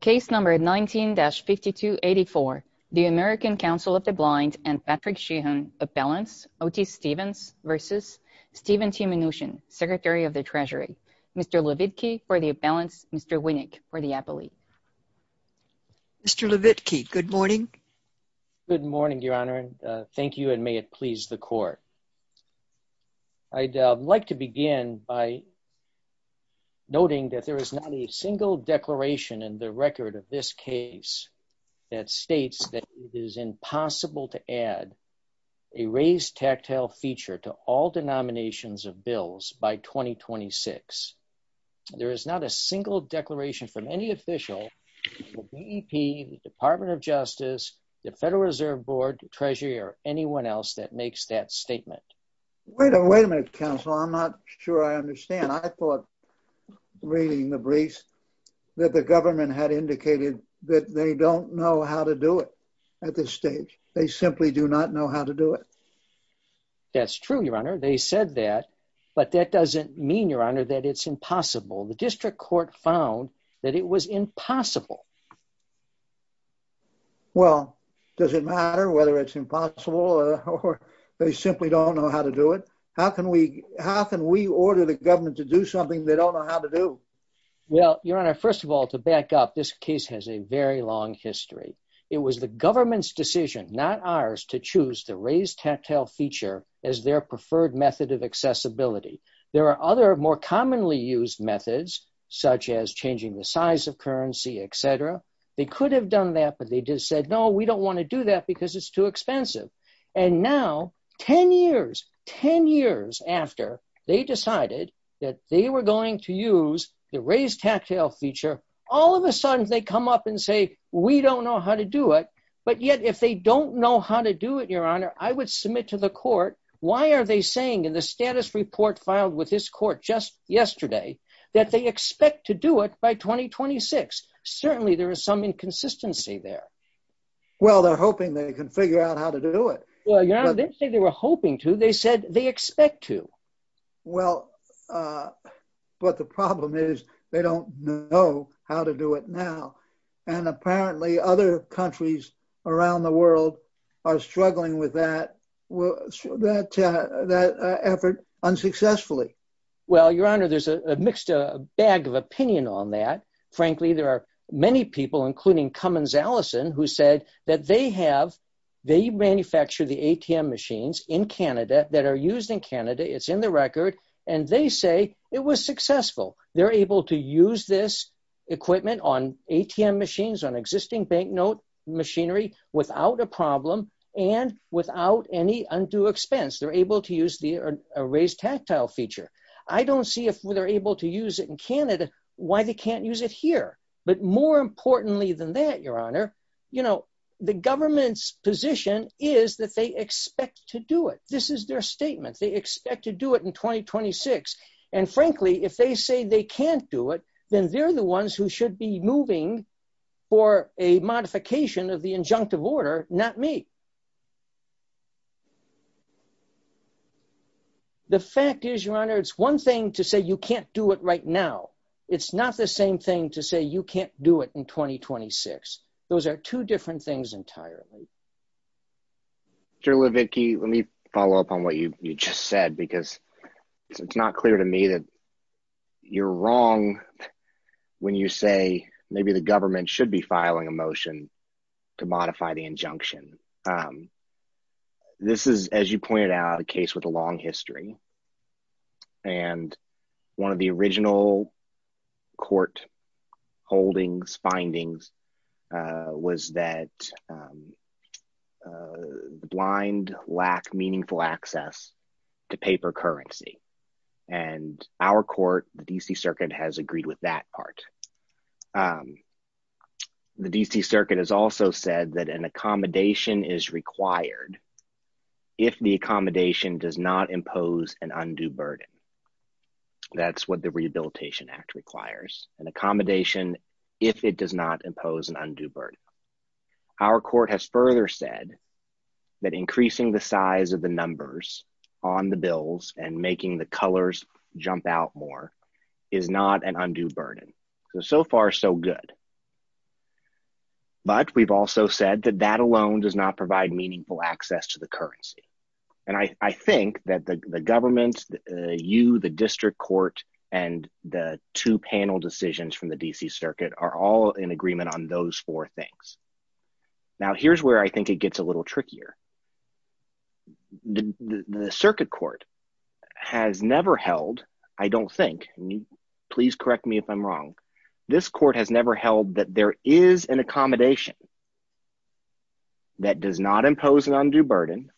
Case number 19-5284, the American Council of the Blind and Patrick Sheehan Appellants, Otis Stevens v. Steven T. Mnuchin, Secretary of the Treasury, Mr. Levitky for the Appellants, Mr. Winnick for the Appellate. Mr. Levitky, good morning. Good morning, Your Honor, thank you and may it please the Court. I'd like to begin by noting that there is not a single declaration in the record of this case that states that it is impossible to add a raised tactile feature to all denominations of bills by 2026. There is not a single declaration from any official, the BEP, the Department of Justice, the Federal Reserve Board, Treasury or anyone else that makes that statement. Wait a minute, counsel, I'm not sure I understand. I thought reading the briefs that the government had indicated that they don't know how to do it at this stage. They simply do not know how to do it. That's true, Your Honor. They said that, but that doesn't mean, Your Honor, that it's impossible. The District Court found that it was impossible. Well, does it matter whether it's impossible or they simply don't know how to do it? How can we, how can we order the government to do something they don't know how to do? Well, Your Honor, first of all, to back up, this case has a very long history. It was the government's decision, not ours, to choose the raised tactile feature as their preferred method of accessibility. There are other more commonly used methods, such as changing the size of currency, etc. They could have done that, but they just said, no, we don't want to do that because it's too expensive. And now, ten years, ten years after they decided that they were going to use the raised tactile feature, all of a sudden they come up and say, we don't know how to do it. But yet, if they don't know how to do it, Your Honor, I would submit to the court, why are they saying in the status report filed with this court just yesterday, that they expect to do it by 2026? Certainly, there is some inconsistency there. Well, they're hoping they can figure out how to do it. Well, Your Honor, they didn't say they were hoping to, they said they expect to. Well, but the problem is, they don't know how to do it now. And apparently, other countries around the world are struggling with that, that effort unsuccessfully. Well, Your Honor, there's a mixed bag of opinion on that. Frankly, there are many people, including Cummins Allison, who said that they have, they manufacture the ATM machines in Canada, that are used in Canada, it's in the record, and they say it was successful. They're able to use this equipment on ATM machines, on existing banknote machinery, without a problem and without any undue expense. They're able to use the raised tactile feature. I don't see if they're able to do it. But more importantly than that, Your Honor, you know, the government's position is that they expect to do it. This is their statement. They expect to do it in 2026. And frankly, if they say they can't do it, then they're the ones who should be moving for a modification of the injunctive order, not me. The fact is, Your Honor, it's one thing to say you can't do it right now. It's not the same thing to say you can't do it in 2026. Those are two different things entirely. Your Honor, let me follow up on what you just said, because it's not clear to me that you're wrong when you say maybe the government should be filing a motion to modify the injunction. This is, as you pointed out, a case with a long history. And one of the original court holdings findings was that the blind lack meaningful access to paper currency. And our court, the DC Circuit, has agreed with that part. The DC Circuit has also said that an accommodation is required if the does not impose an undue burden. That's what the Rehabilitation Act requires, an accommodation, if it does not impose an undue burden. Our court has further said that increasing the size of the numbers on the bills and making the colors jump out more is not an undue burden. So, so far, so good. But we've also said that that alone does not provide meaningful access to the government. You, the district court, and the two panel decisions from the DC Circuit are all in agreement on those four things. Now, here's where I think it gets a little trickier. The Circuit Court has never held, I don't think, please correct me if I'm wrong, this court has never held that there is an accommodation that does not impose an undue burden,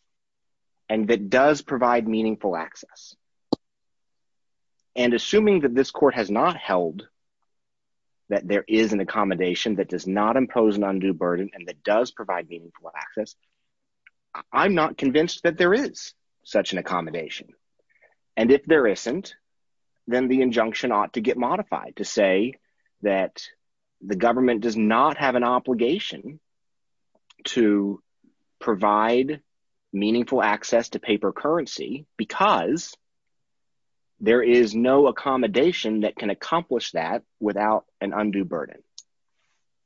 and that does provide meaningful access. And assuming that this court has not held that there is an accommodation that does not impose an undue burden and that does provide meaningful access, I'm not convinced that there is such an accommodation. And if there isn't, then the injunction ought to get modified to say that the government does not have an obligation to provide meaningful access to paper currency because there is no accommodation that can accomplish that without an undue burden.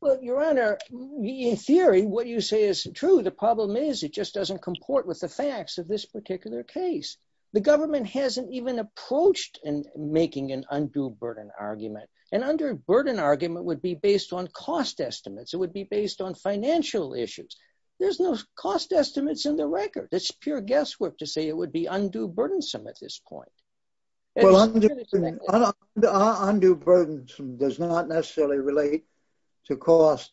Well, Your Honor, in theory, what you say is true. The problem is it just doesn't comport with the facts of this particular case. The government hasn't even approached in making an undue burden argument. An undue burden argument would be based on cost estimates, it would be based on financial issues. There's no cost estimates in the record. It's pure guesswork to say it would be undue burdensome at this point. Well, undue burdens does not necessarily relate to cost.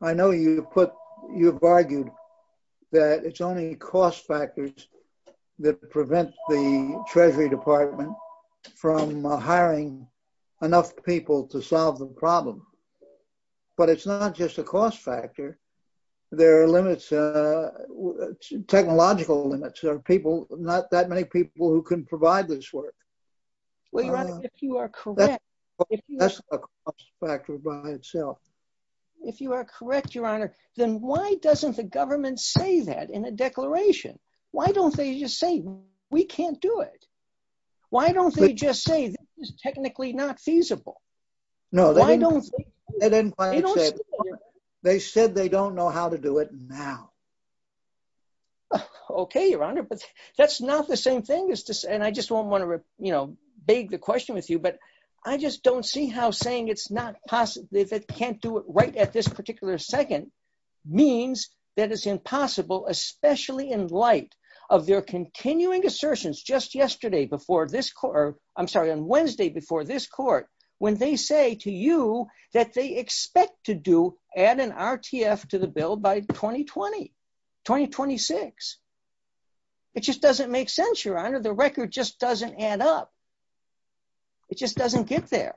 I know you put, you've argued that it's only cost factors that prevent the Treasury Department from hiring enough people to solve the problem. But it's not just a cost factor. There are limits, technological limits, there are people, not that many people who can provide this work. Well, Your Honor, if you are correct... That's a cost factor by itself. If you are correct, Your Honor, then why doesn't the government say that in a technically not feasible? No, they didn't. They said they don't know how to do it now. Okay, Your Honor, but that's not the same thing as this. And I just want to, you know, beg the question with you. But I just don't see how saying it's not possible, if it can't do it right at this particular second, means that it's impossible, especially in light of their continuing assertions just yesterday before this court, I'm sorry, on Wednesday before this court, when they say to you that they expect to do add an RTF to the bill by 2020, 2026. It just doesn't make sense, Your Honor, the record just doesn't add up. It just doesn't get there.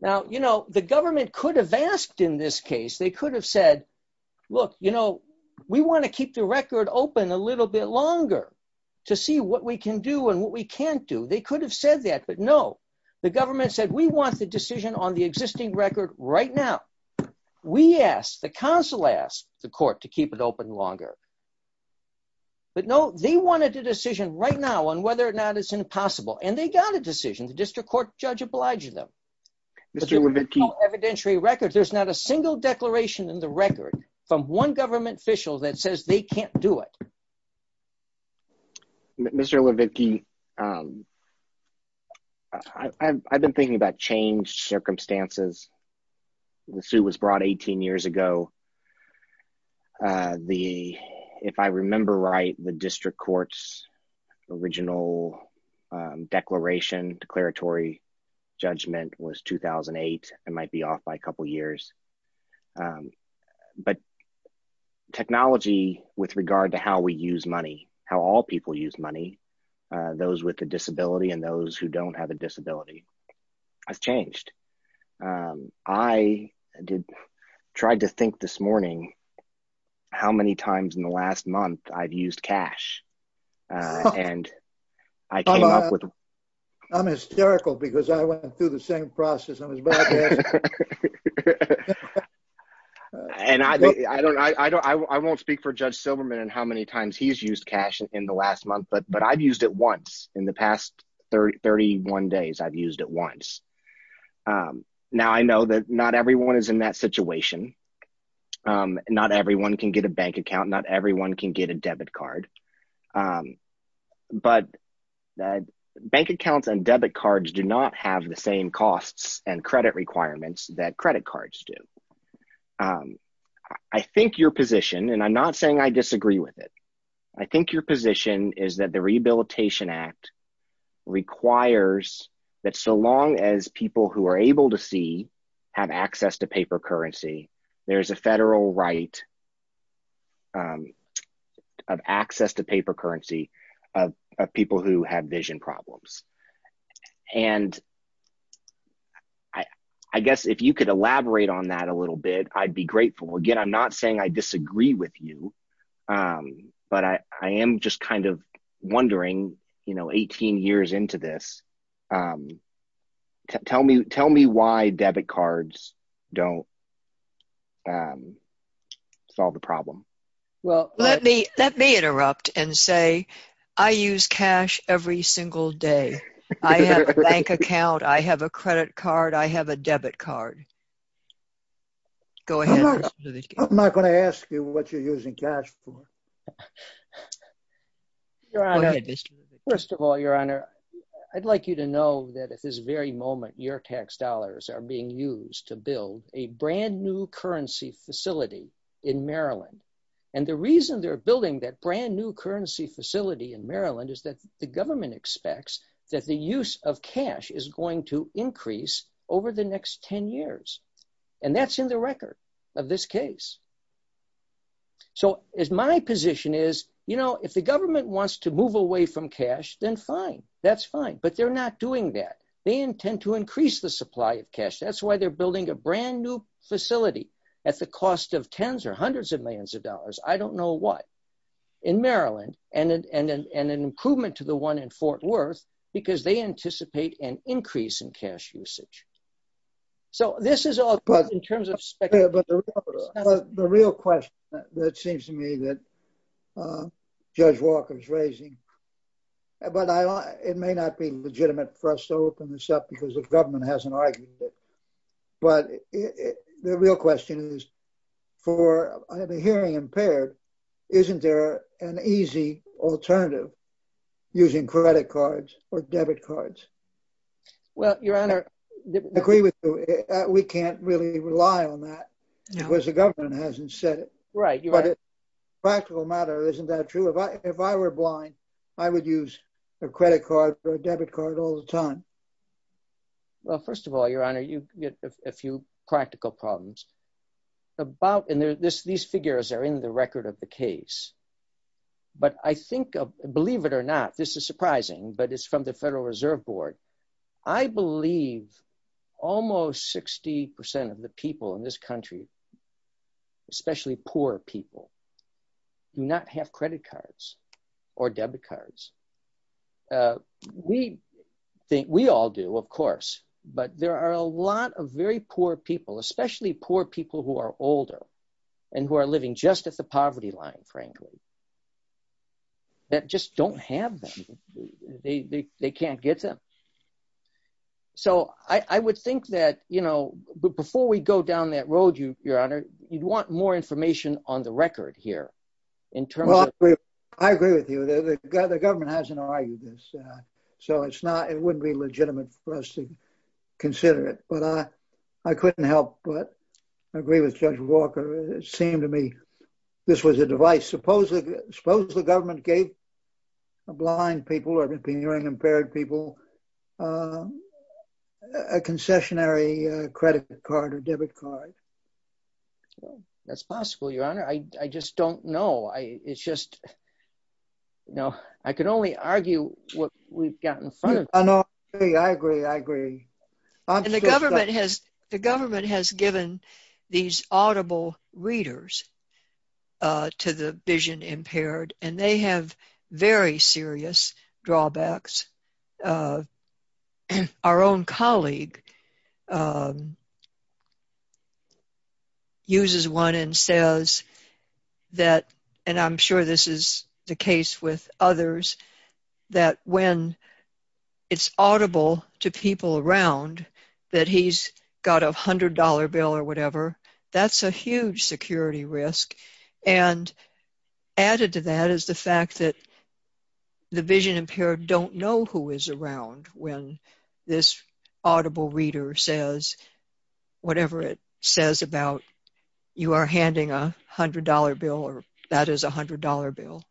Now, you know, the government could have asked in this case, they could have said, look, you know, we want to keep the record open a little bit longer to see what we can do and what we can't do. They could have said that, but no, the government said we want the decision on the existing record right now. We asked, the counsel asked the court to keep it open longer. But they didn't. They didn't. No, they wanted a decision right now on whether or not it's impossible. And they got a decision. The district court judge obliged them. Mr. Levitke. There's no evidentiary record. There's not a single declaration in the record from one government official that says they can't do it. Mr. Levitke, I've been thinking about changed circumstances. The suit was brought 18 years ago. The, if I remember right, the district court's original declaration, declaratory judgment was 2008. It might be off by a couple years. But technology with regard to how we use money, how all people use money, those with a disability and those who don't have a disability has changed. Um, I did, tried to think this morning, how many times in the last month I've used cash. And I came up with. I'm hysterical because I went through the same process. And I, I don't, I don't, I won't speak for Judge Silverman and how many times he's used cash in the last month, but, but I've used it once in the past 30, 31 days, I've used it once. Now I know that not everyone is in that situation. Not everyone can get a bank account. Not everyone can get a debit card. But bank accounts and debit cards do not have the same costs and credit requirements that credit cards do. I think your position, and I'm not saying I disagree with it. I think your position is that the Rehabilitation Act requires that so long as people who are able to see have access to paper currency, there's a federal right of access to paper currency of people who have vision problems. And I, I guess if you could elaborate on that a little bit, I'd be grateful. Again, I'm not saying I disagree with you. But I am just kind of wondering, you know, 18 years into this. Um, tell me, tell me why debit cards don't solve the problem. Well, let me, let me interrupt and say, I use cash every single day. I have a bank account. I have a credit card. I have a debit card. Go ahead. I'm not going to ask you what you're using cash for. Your honor, first of all, your honor, I'd like you to know that at this very moment, your tax dollars are being used to build a brand new currency facility in Maryland. And the reason they're building that brand new currency facility in Maryland is that the government expects that the use of cash is going to increase over the next 10 years. And that's in the record of this case. So as my position is, you know, if the government wants to move away from cash, then fine, that's fine. But they're not doing that. They intend to increase the supply of cash. That's why they're building a brand new facility at the cost of tens or hundreds of millions of dollars. I don't know what in Maryland and, and, and, and an improvement to the one in Fort Worth because they anticipate an increase in cash usage. So this is all good in terms of spec. But the real question that seems to me that Judge Walker is raising, but it may not be legitimate for us to open this up because the government hasn't argued it. But the real question is, for the hearing impaired, isn't there an easy alternative using credit cards or debit cards? Well, your honor, I agree with you. We can't really rely on that because the government hasn't said it. Right. But practical matter, isn't that true? If I, if I were blind, I would use a credit card or debit card all the time. Well, first of all, your honor, you get a few practical problems about, and these figures are in the record of the case. But I think, believe it or not, this is surprising, but it's from the Federal Reserve Board. I believe almost 60% of the people in this country, especially poor people, do not have credit cards or debit cards. We think, we all do, of course, but there are a lot of very poor people, especially poor people who are older and who are living just at the poverty line, frankly, that just don't have them. They can't get them. So I would think that, you know, before we go down that road, your honor, you'd want more information on the record here in terms of... Well, I agree with you. The government hasn't argued this. So it's not, it wouldn't be legitimate for us to consider it. But I couldn't help but agree with Judge Walker. It seemed to me this was a device. Suppose the government gave blind people or hearing impaired people a concessionary credit card or debit card. That's possible, your honor. I just don't know. It's just, you know, I could only argue what we've got in front of us. I know. I agree. I agree. The government has given these audible readers to the vision impaired, and they have very serious drawbacks. Our own colleague uses one and says that, and I'm sure this is the case with others, that when it's audible to people around that he's got a $100 bill or whatever, that's a huge security risk. And added to that is the fact that the vision impaired don't know who is around when this audible reader says whatever it says about you are handing a $100 bill or that is a $100 bill.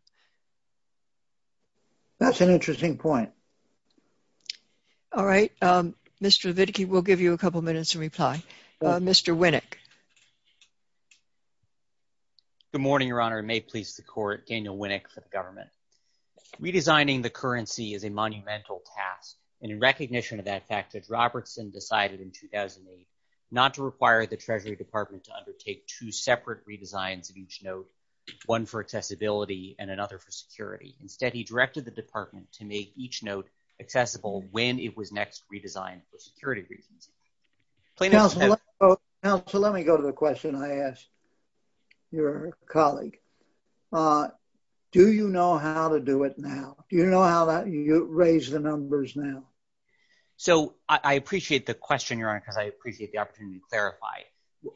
That's an interesting point. All right. Mr. Leviticky, we'll give you a couple minutes to reply. Mr. Winnick. Good morning, your honor. May it please the court. Daniel Winnick for the government. Redesigning the currency is a monumental task, and in recognition of that fact, Judge Robertson decided in 2008 not to require the Treasury Department to undertake two separate redesigns of each note, one for accessibility and another for security. Instead, he directed the department to make each note accessible when it was next redesigned for security reasons. Counselor, let me go to the question I asked your colleague. Do you know how to do it now? Do you know how that you raise the numbers now? So I appreciate the question, your honor, because I appreciate the opportunity to clarify.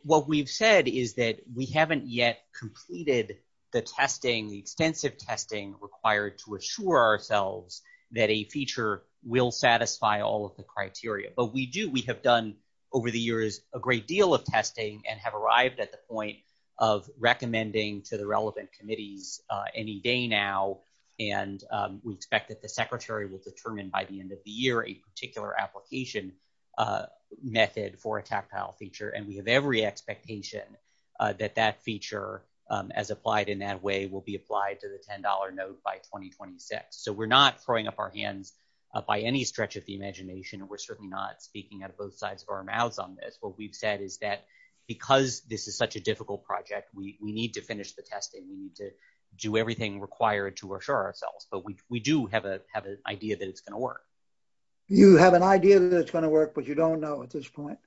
What we've said is that we haven't yet completed the testing, the extensive testing required to assure ourselves that a feature will satisfy all of the criteria. But we do. We have done over the years a great deal of testing and have arrived at the point of recommending to the relevant committees any day now. And we expect that secretary will determine by the end of the year a particular application method for a tactile feature. And we have every expectation that that feature, as applied in that way, will be applied to the $10 note by 2026. So we're not throwing up our hands by any stretch of the imagination, and we're certainly not speaking out of both sides of our mouths on this. What we've said is that because this is such a difficult project, we need to finish the testing. We need to do everything required to assure ourselves. But we do have an idea that it's going to work. You have an idea that it's going to work, but you don't know at this point?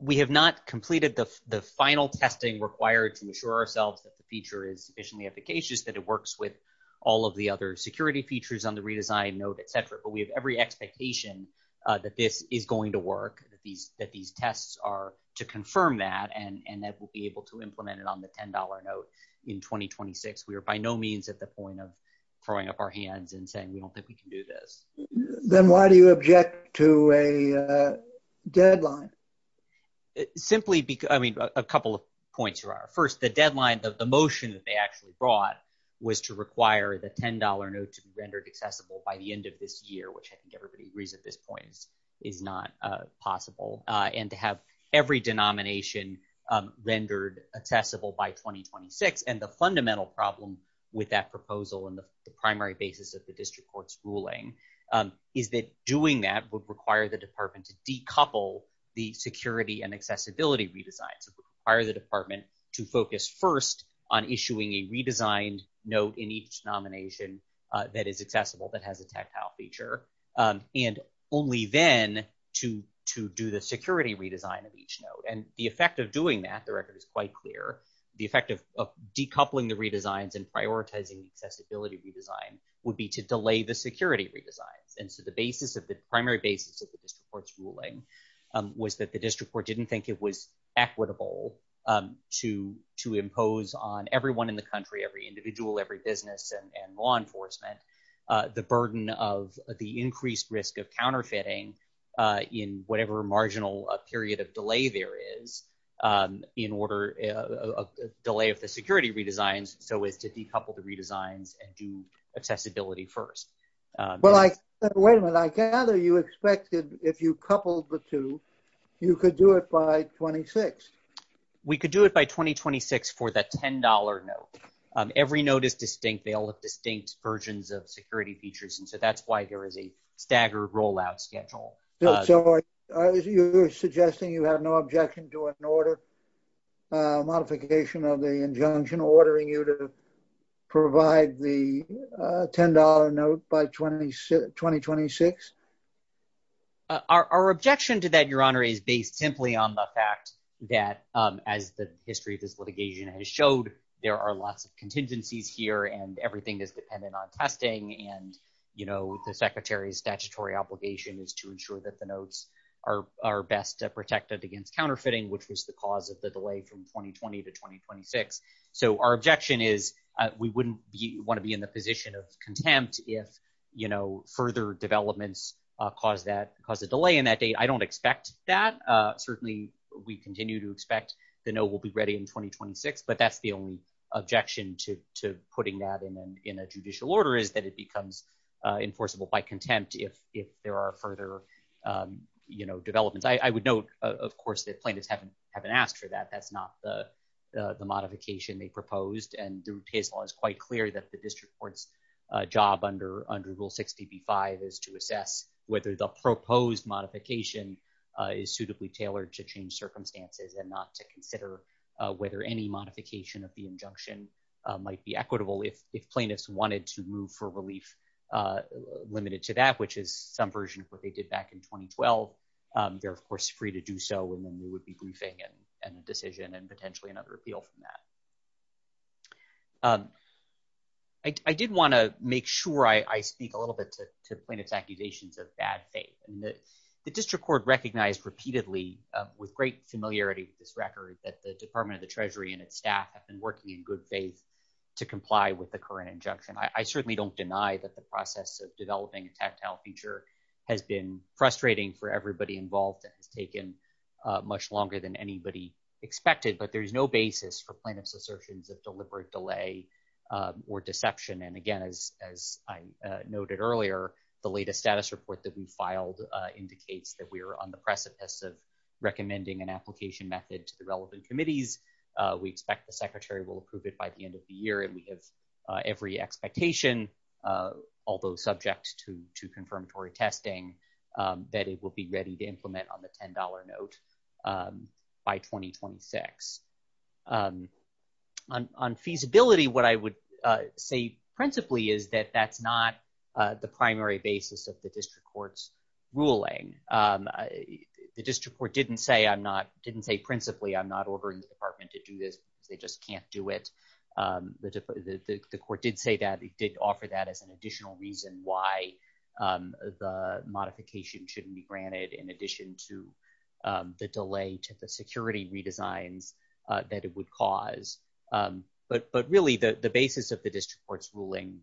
We have not completed the final testing required to assure ourselves that the feature is sufficiently efficacious, that it works with all of the other security features on the redesigned note, et cetera. But we have every expectation that this is going to work, that these tests are to confirm that, and that we'll be able to implement it on the $10 note in 2026. We are by no means at the point of throwing up our hands and saying, we don't think we can do this. Then why do you object to a deadline? Simply because, I mean, a couple of points here. First, the deadline of the motion that they actually brought was to require the $10 note to be rendered accessible by the end of this year, which I think everybody agrees at this point is not possible. And to have every denomination rendered accessible by 2026. And the fundamental problem with that proposal and the primary basis of the district court's ruling is that doing that would require the department to decouple the security and accessibility redesign. So it would require the department to focus first on issuing a redesigned note in each nomination that is accessible, that has a tactile feature, and only then to do the security redesign of each note. And the effect of doing that, the record is quite clear, the effect of decoupling the redesigns and prioritizing accessibility redesign would be to delay the security redesigns. And so the primary basis of the district court's ruling was that the district court didn't think it was equitable to impose on everyone in the country, every individual, every business and law enforcement, the burden of the increased risk of counterfeiting in whatever marginal period of delay there is in order of delay of the security redesigns, so as to decouple the redesigns and do accessibility first. Well, I, wait a minute, I gather you expected if you coupled the two, you could do it by 2026. We could do it by 2026 for the $10 note. Every note is distinct, they all have distinct versions of security features, and so that's why there is a staggered rollout schedule. So you're suggesting you have no objection to an order, a modification of the injunction ordering you to provide the $10 note by 2026? Our objection to that, your honor, is based simply on the fact that as the history of this litigation has showed, there are lots of contingencies here and everything is dependent on testing, and the secretary's statutory obligation is to ensure that the notes are best protected against counterfeiting, which was the cause of the delay from 2020 to 2026. So our objection is we wouldn't want to be in the position of contempt if further developments cause a delay in that date. I don't expect that. Certainly, we continue to expect the note will be ready in 2026, but that's the only objection to putting that in a judicial order is that it becomes enforceable by contempt if there are further, you know, developments. I would note, of course, that plaintiffs haven't asked for that. That's not the modification they proposed, and the rule of case law is quite clear that the is suitably tailored to change circumstances and not to consider whether any modification of the injunction might be equitable. If plaintiffs wanted to move for relief limited to that, which is some version of what they did back in 2012, they're, of course, free to do so, and then we would be briefing and a decision and potentially another appeal from that. I did want to make sure I speak a little bit to plaintiff's accusations of bad faith, and that the district court recognized repeatedly with great familiarity with this record that the Department of the Treasury and its staff have been working in good faith to comply with the current injunction. I certainly don't deny that the process of developing a tactile feature has been frustrating for everybody involved and has taken much longer than anybody expected, but there is no basis for plaintiff's assertions of deliberate delay or deception, and again, as I noted earlier, the latest status report that we filed indicates that we are on the precipice of recommending an application method to the relevant committees. We expect the secretary will approve it by the end of the year, and we have every expectation, although subject to confirmatory testing, that it will be ready to implement on the $10 note by 2026. On feasibility, what I would say principally is that that's not the primary basis of the district court's ruling. The district court didn't say I'm not, didn't say principally I'm not ordering the department to do this, they just can't do it. The court did say that, it did offer that as an additional reason why the modification shouldn't be granted in addition to the delay to the security redesigns that it caused, but really the basis of the district court's ruling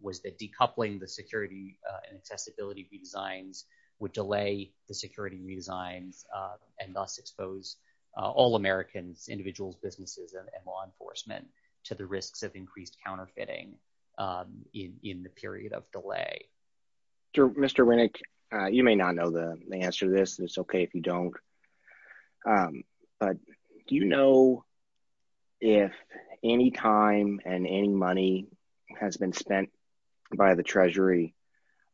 was that decoupling the security and accessibility redesigns would delay the security redesigns and thus expose all Americans, individuals, businesses, and law enforcement to the risks of increased counterfeiting in the period of delay. Mr. Winnick, you may not know the answer to this, and it's okay if you don't, but do you know if any time and any money has been spent by the treasury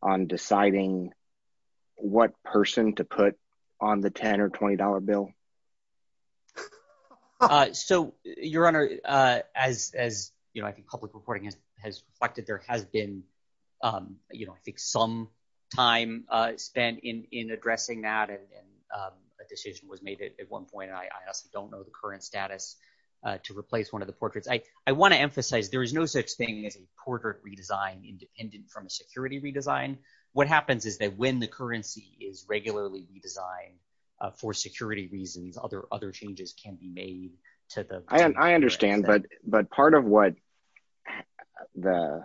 on deciding what person to put on the $10 or $20 bill? So, your honor, as, you know, I think public reporting has reflected, there has been, you know, I think some time spent in addressing that, and a decision was made at one point, and I honestly don't know the current status to replace one of the portraits. I want to emphasize there is no such thing as a portrait redesign independent from a security redesign. What happens is that when the currency is regularly redesigned for security reasons, other changes can be made. I understand, but part of what the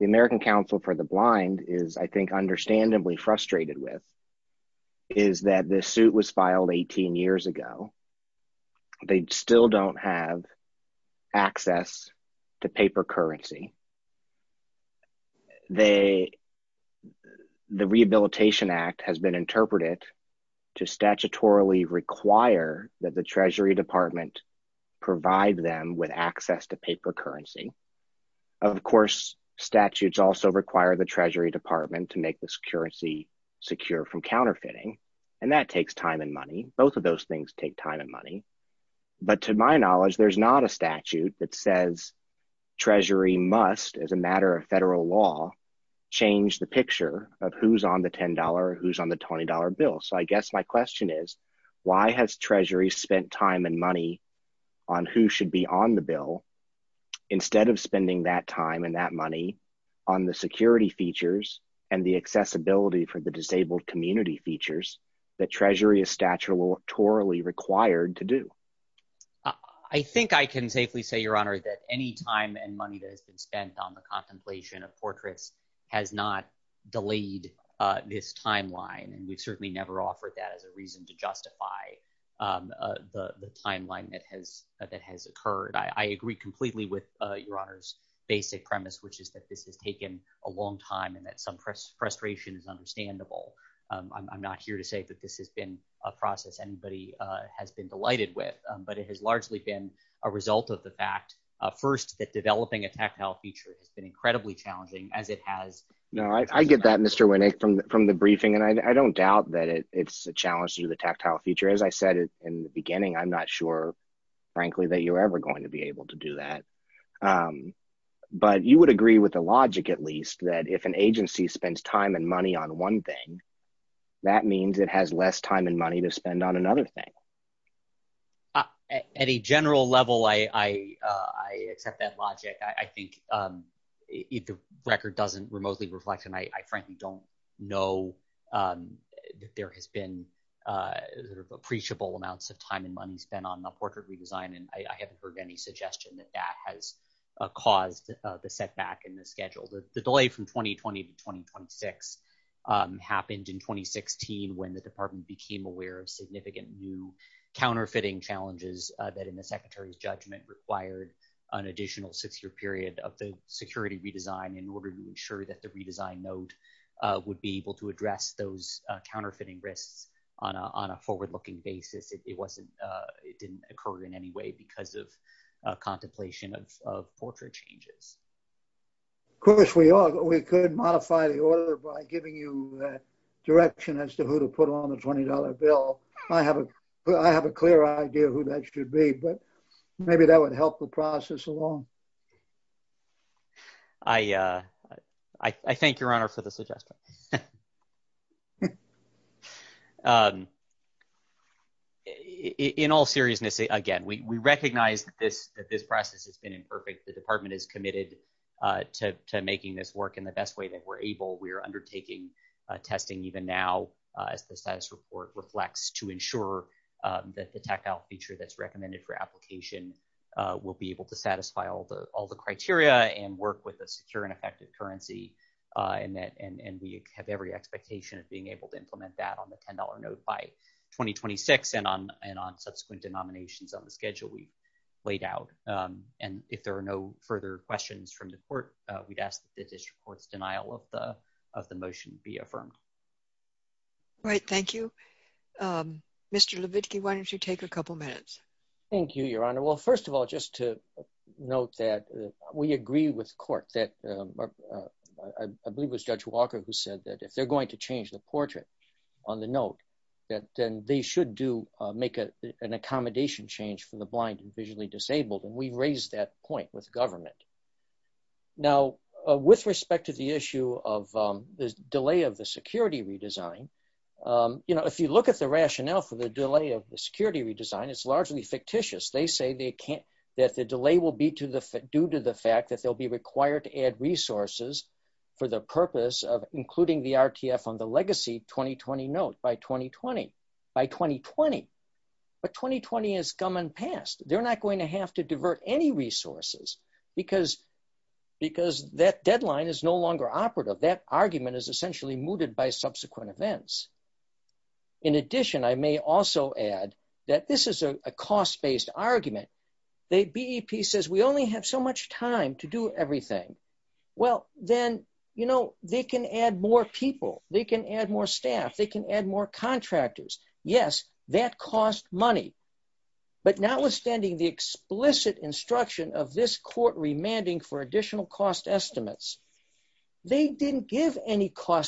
American Council for the Blind is, I think, understandably frustrated with is that this suit was filed 18 years ago. They still don't have access to paper currency. The Rehabilitation Act has been interpreted to statutorily require that the Treasury Department provide them with access to paper currency. Of course, statutes also require the Treasury Department to make the currency secure from counterfeiting, and that takes time and money. Both of those things take time and money, but to my knowledge, there's not a statute that says Treasury must, as a matter of federal law, change the picture of who's on the $10 or who's on the $20 bill. So I guess my question is, why has Treasury spent time and money on who should be on the bill instead of spending that time and that money on the security features and the accessibility for the disabled community features that Treasury is statutorily required to do? I think I can safely say, Your Honor, that any time and money that has been spent on the contemplation of portraits has not delayed this timeline, and we've certainly never offered that as a reason to justify the timeline that has occurred. I agree completely with Your Honor's basic premise, which is that this has taken a long time and that some frustration is understandable. I'm not here to say that this has been a process anybody has been delighted with, but it has largely been a result of the fact, first, that developing a tactile feature has been incredibly challenging, as it has- No, I get that, Mr. Winnick, from the briefing, and I don't doubt that it's a challenge to do the tactile feature. As I said in the beginning, I'm not sure, frankly, that you're ever going to be able to do that. But you would agree with the logic, at least, that if an agency spends time and money on one thing, that means it has less time and money to spend on another thing. At a general level, I accept that logic. I think if the record doesn't remotely reflect, and I frankly don't know that there has been appreciable amounts of time and money spent on the portrait redesign, and I haven't heard any suggestion that that has caused the setback in the schedule. The delay from 2020 to 2026 happened in 2016, when the department became aware of significant new counterfeiting challenges that, in the secretary's judgment, required an additional six-year period of the security redesign in order to ensure that the redesign note would be able to address those counterfeiting risks on a forward-looking basis. It didn't occur in any way because of contemplation of portrait changes. Of course, we could modify the order by giving you a direction as to who to put on the $20 bill. I have a clear idea of who that should be, but maybe that would help the process along. I thank your honor for the suggestion. In all seriousness, again, we recognize that this department is committed to making this work in the best way that we're able. We're undertaking testing even now, as the status report reflects, to ensure that the tech-out feature that's recommended for application will be able to satisfy all the criteria and work with a secure and effective currency. We have every expectation of being able to implement that on the $10 note by 2026 and on subsequent denominations on the schedule we laid out. If there are no further questions from the court, we'd ask that the district court's denial of the motion be affirmed. Right. Thank you. Mr. Levitky, why don't you take a couple minutes? Thank you, your honor. Well, first of all, just to note that we agree with court that I believe it was Judge Walker who said that if they're going to change the portrait on the note, that then they should do make an accommodation change from the blind and visually disabled, and we've raised that point with government. Now, with respect to the issue of the delay of the security redesign, you know, if you look at the rationale for the delay of the security redesign, it's largely fictitious. They say that the delay will be due to the fact that they'll be required to add resources for the purpose of including the RTF on the legacy 2020 note by 2020. By 2020. But 2020 has come and passed. They're not going to have to divert any resources because that deadline is no longer operative. That argument is essentially mooted by subsequent events. In addition, I may also add that this is a cost-based argument. The BEP says we only have so much time to do everything. Well, then, you know, they can add more people. They can add more staff. They can add more contractors. Yes, that costs money. But notwithstanding the explicit instruction of this court remanding for additional cost estimates, they didn't give any or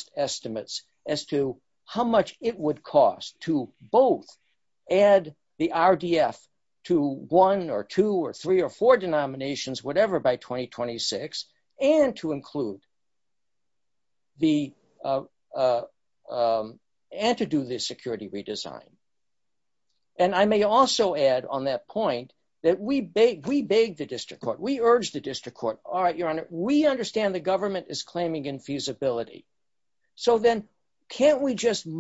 four denominations, whatever, by 2026 and to include the and to do the security redesign. And I may also add on that point that we beg the district court. We urge the district court. All right, your honor, we understand the government is claiming infeasibility. So, then, can't we just by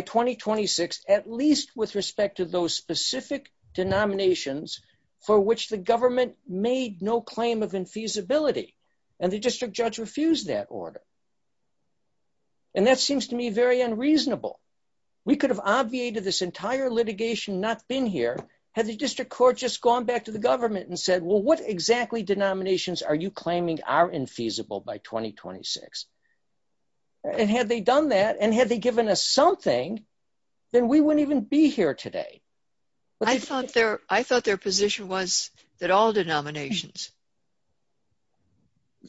2026 at least with respect to those specific denominations for which the government made no claim of infeasibility and the district judge refused that order? And that seems to me very unreasonable. We could have obviated this entire litigation not been here had the district court just gone back to the government and said, well, what exactly denominations are you claiming are infeasible by 2026? And had they done that and had they given us something, then we wouldn't even be here today. I thought their position was that all denominations.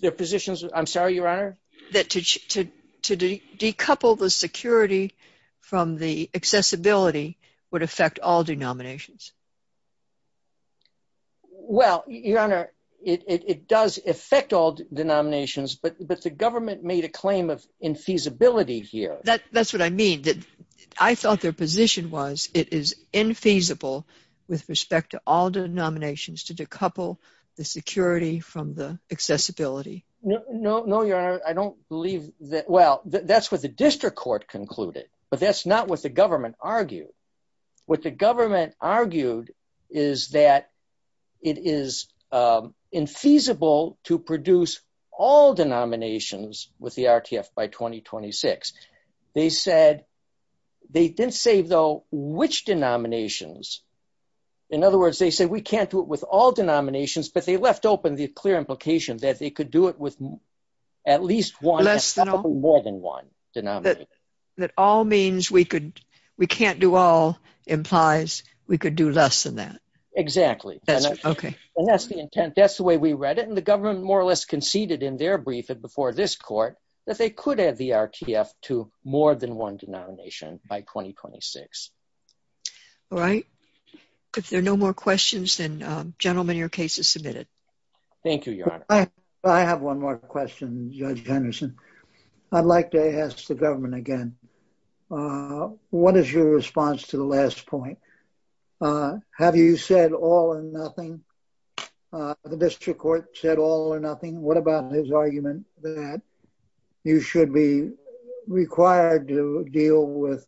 Their positions, I'm sorry, your honor? That to decouple the security from the accessibility would affect all denominations. Well, your honor, it does affect all denominations, but the government made a claim of infeasibility here. That's what I mean. I thought their position was it is infeasible with respect to all denominations to decouple the security from the accessibility. No, no, your honor. I don't believe that. Well, that's what the district court concluded, but that's not what the government argued. What the government argued is that it is infeasible to produce all denominations with the RTF by 2026. They didn't say, though, which denominations. In other words, they said we can't do it with all denominations, but they left open the clear implication that they could do it with at least one. Less than or more than one. That all means we can't do all implies we could do less than that. Exactly. That's the intent. That's the way we read it, and the government more or less conceded in their briefing before this court that they could add the RTF to more than one denomination by 2026. All right. If there are no more questions, then gentlemen, your case is submitted. Thank you, your honor. I have one more question, Judge Henderson. I'd like to ask the government again, what is your response to the last point? Have you said all or nothing? The district court said all or nothing. What about his argument that you should be required to deal with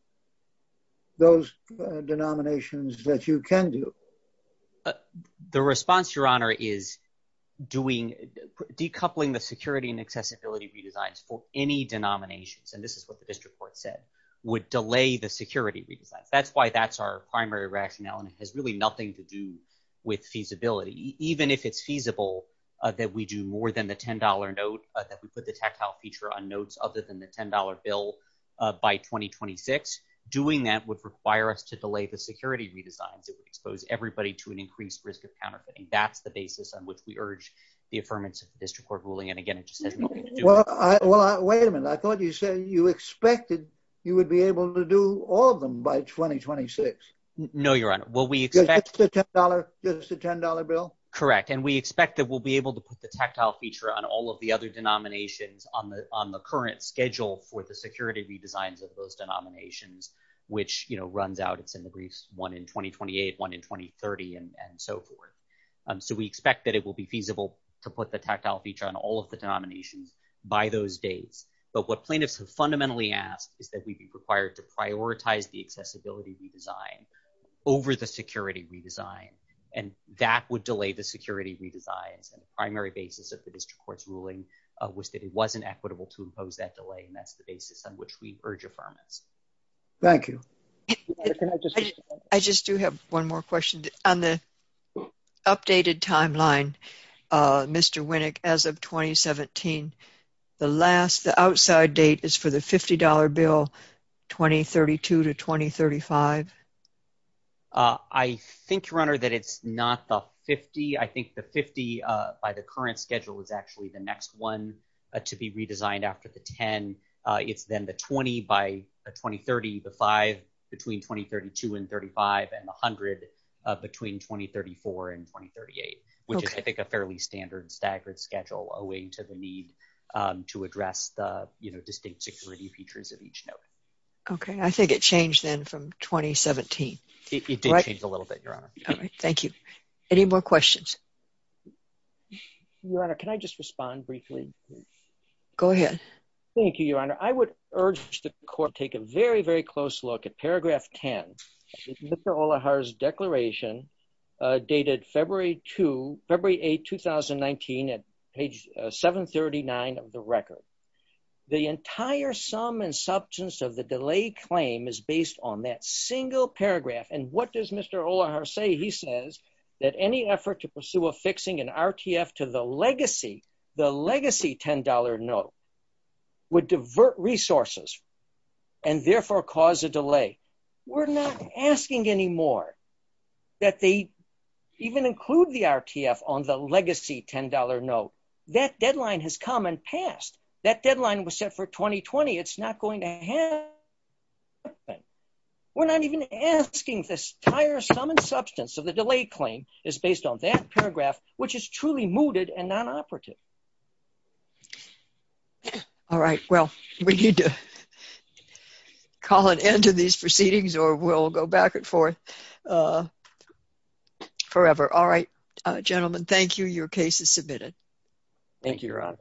those denominations that you can do? The response, your honor, is decoupling the security and accessibility redesigns for any denominations, and this is what the district court said, would delay the security redesigns. That's why that's our primary rationale, and it has really nothing to do with feasibility. Even if it's feasible that we do more than the $10 note, that we put the tactile feature on notes other than the $10 bill by 2026, doing that would require us to delay the security redesigns. It would expose everybody to an increased risk of counterfeiting. That's the basis on which we urge the affirmance of the district court ruling, and again, it just has nothing to do with it. Wait a minute. I thought you said you expected you would be able to do all of them by 2026. No, your honor. Will we expect- Just the $10 bill? Correct, and we expect that we'll be able to put the tactile feature on all of the other denominations on the current schedule for the security redesigns of those denominations, which runs out. It's in the briefs, one in 2028, one in 2030, and so forth. We expect that it will be feasible to put the tactile feature on all of the denominations by those dates, but what plaintiffs have fundamentally asked is that we be required to prioritize the accessibility redesign over the security redesign, and that would delay the security redesigns. The primary basis of the district court's ruling was that it wasn't equitable to impose that delay, and that's the basis on which we urge affirmance. Thank you. Can I just- I just do have one more question. On the updated timeline, Mr. Winnick, as of 2017, the last, the outside date is for the $50 bill, 2032 to 2035? I think, your honor, that it's not the 50. I think the 50 by the current schedule is actually the between 2032 and 35, and the 100 between 2034 and 2038, which is, I think, a fairly standard staggered schedule owing to the need to address the, you know, distinct security features of each note. Okay, I think it changed then from 2017. It did change a little bit, your honor. All right, thank you. Any more questions? Your honor, can I just respond briefly? Go ahead. Thank you, your honor. I would urge the court to take a very, very close look at paragraph 10. Mr. Olahar's declaration dated February 2, February 8, 2019, at page 739 of the record. The entire sum and substance of the delay claim is based on that single paragraph, and what does Mr. Olahar say? He says that any effort to pursue a fixing in delay. We're not asking anymore that they even include the RTF on the legacy $10 note. That deadline has come and passed. That deadline was set for 2020. It's not going to happen. We're not even asking this entire sum and substance of the delay claim is based on that paragraph, which is truly mooted and non-operative. All right, well, we need to call an end to these proceedings or we'll go back and forth forever. All right, gentlemen, thank you. Your case is submitted. Thank you, your honor.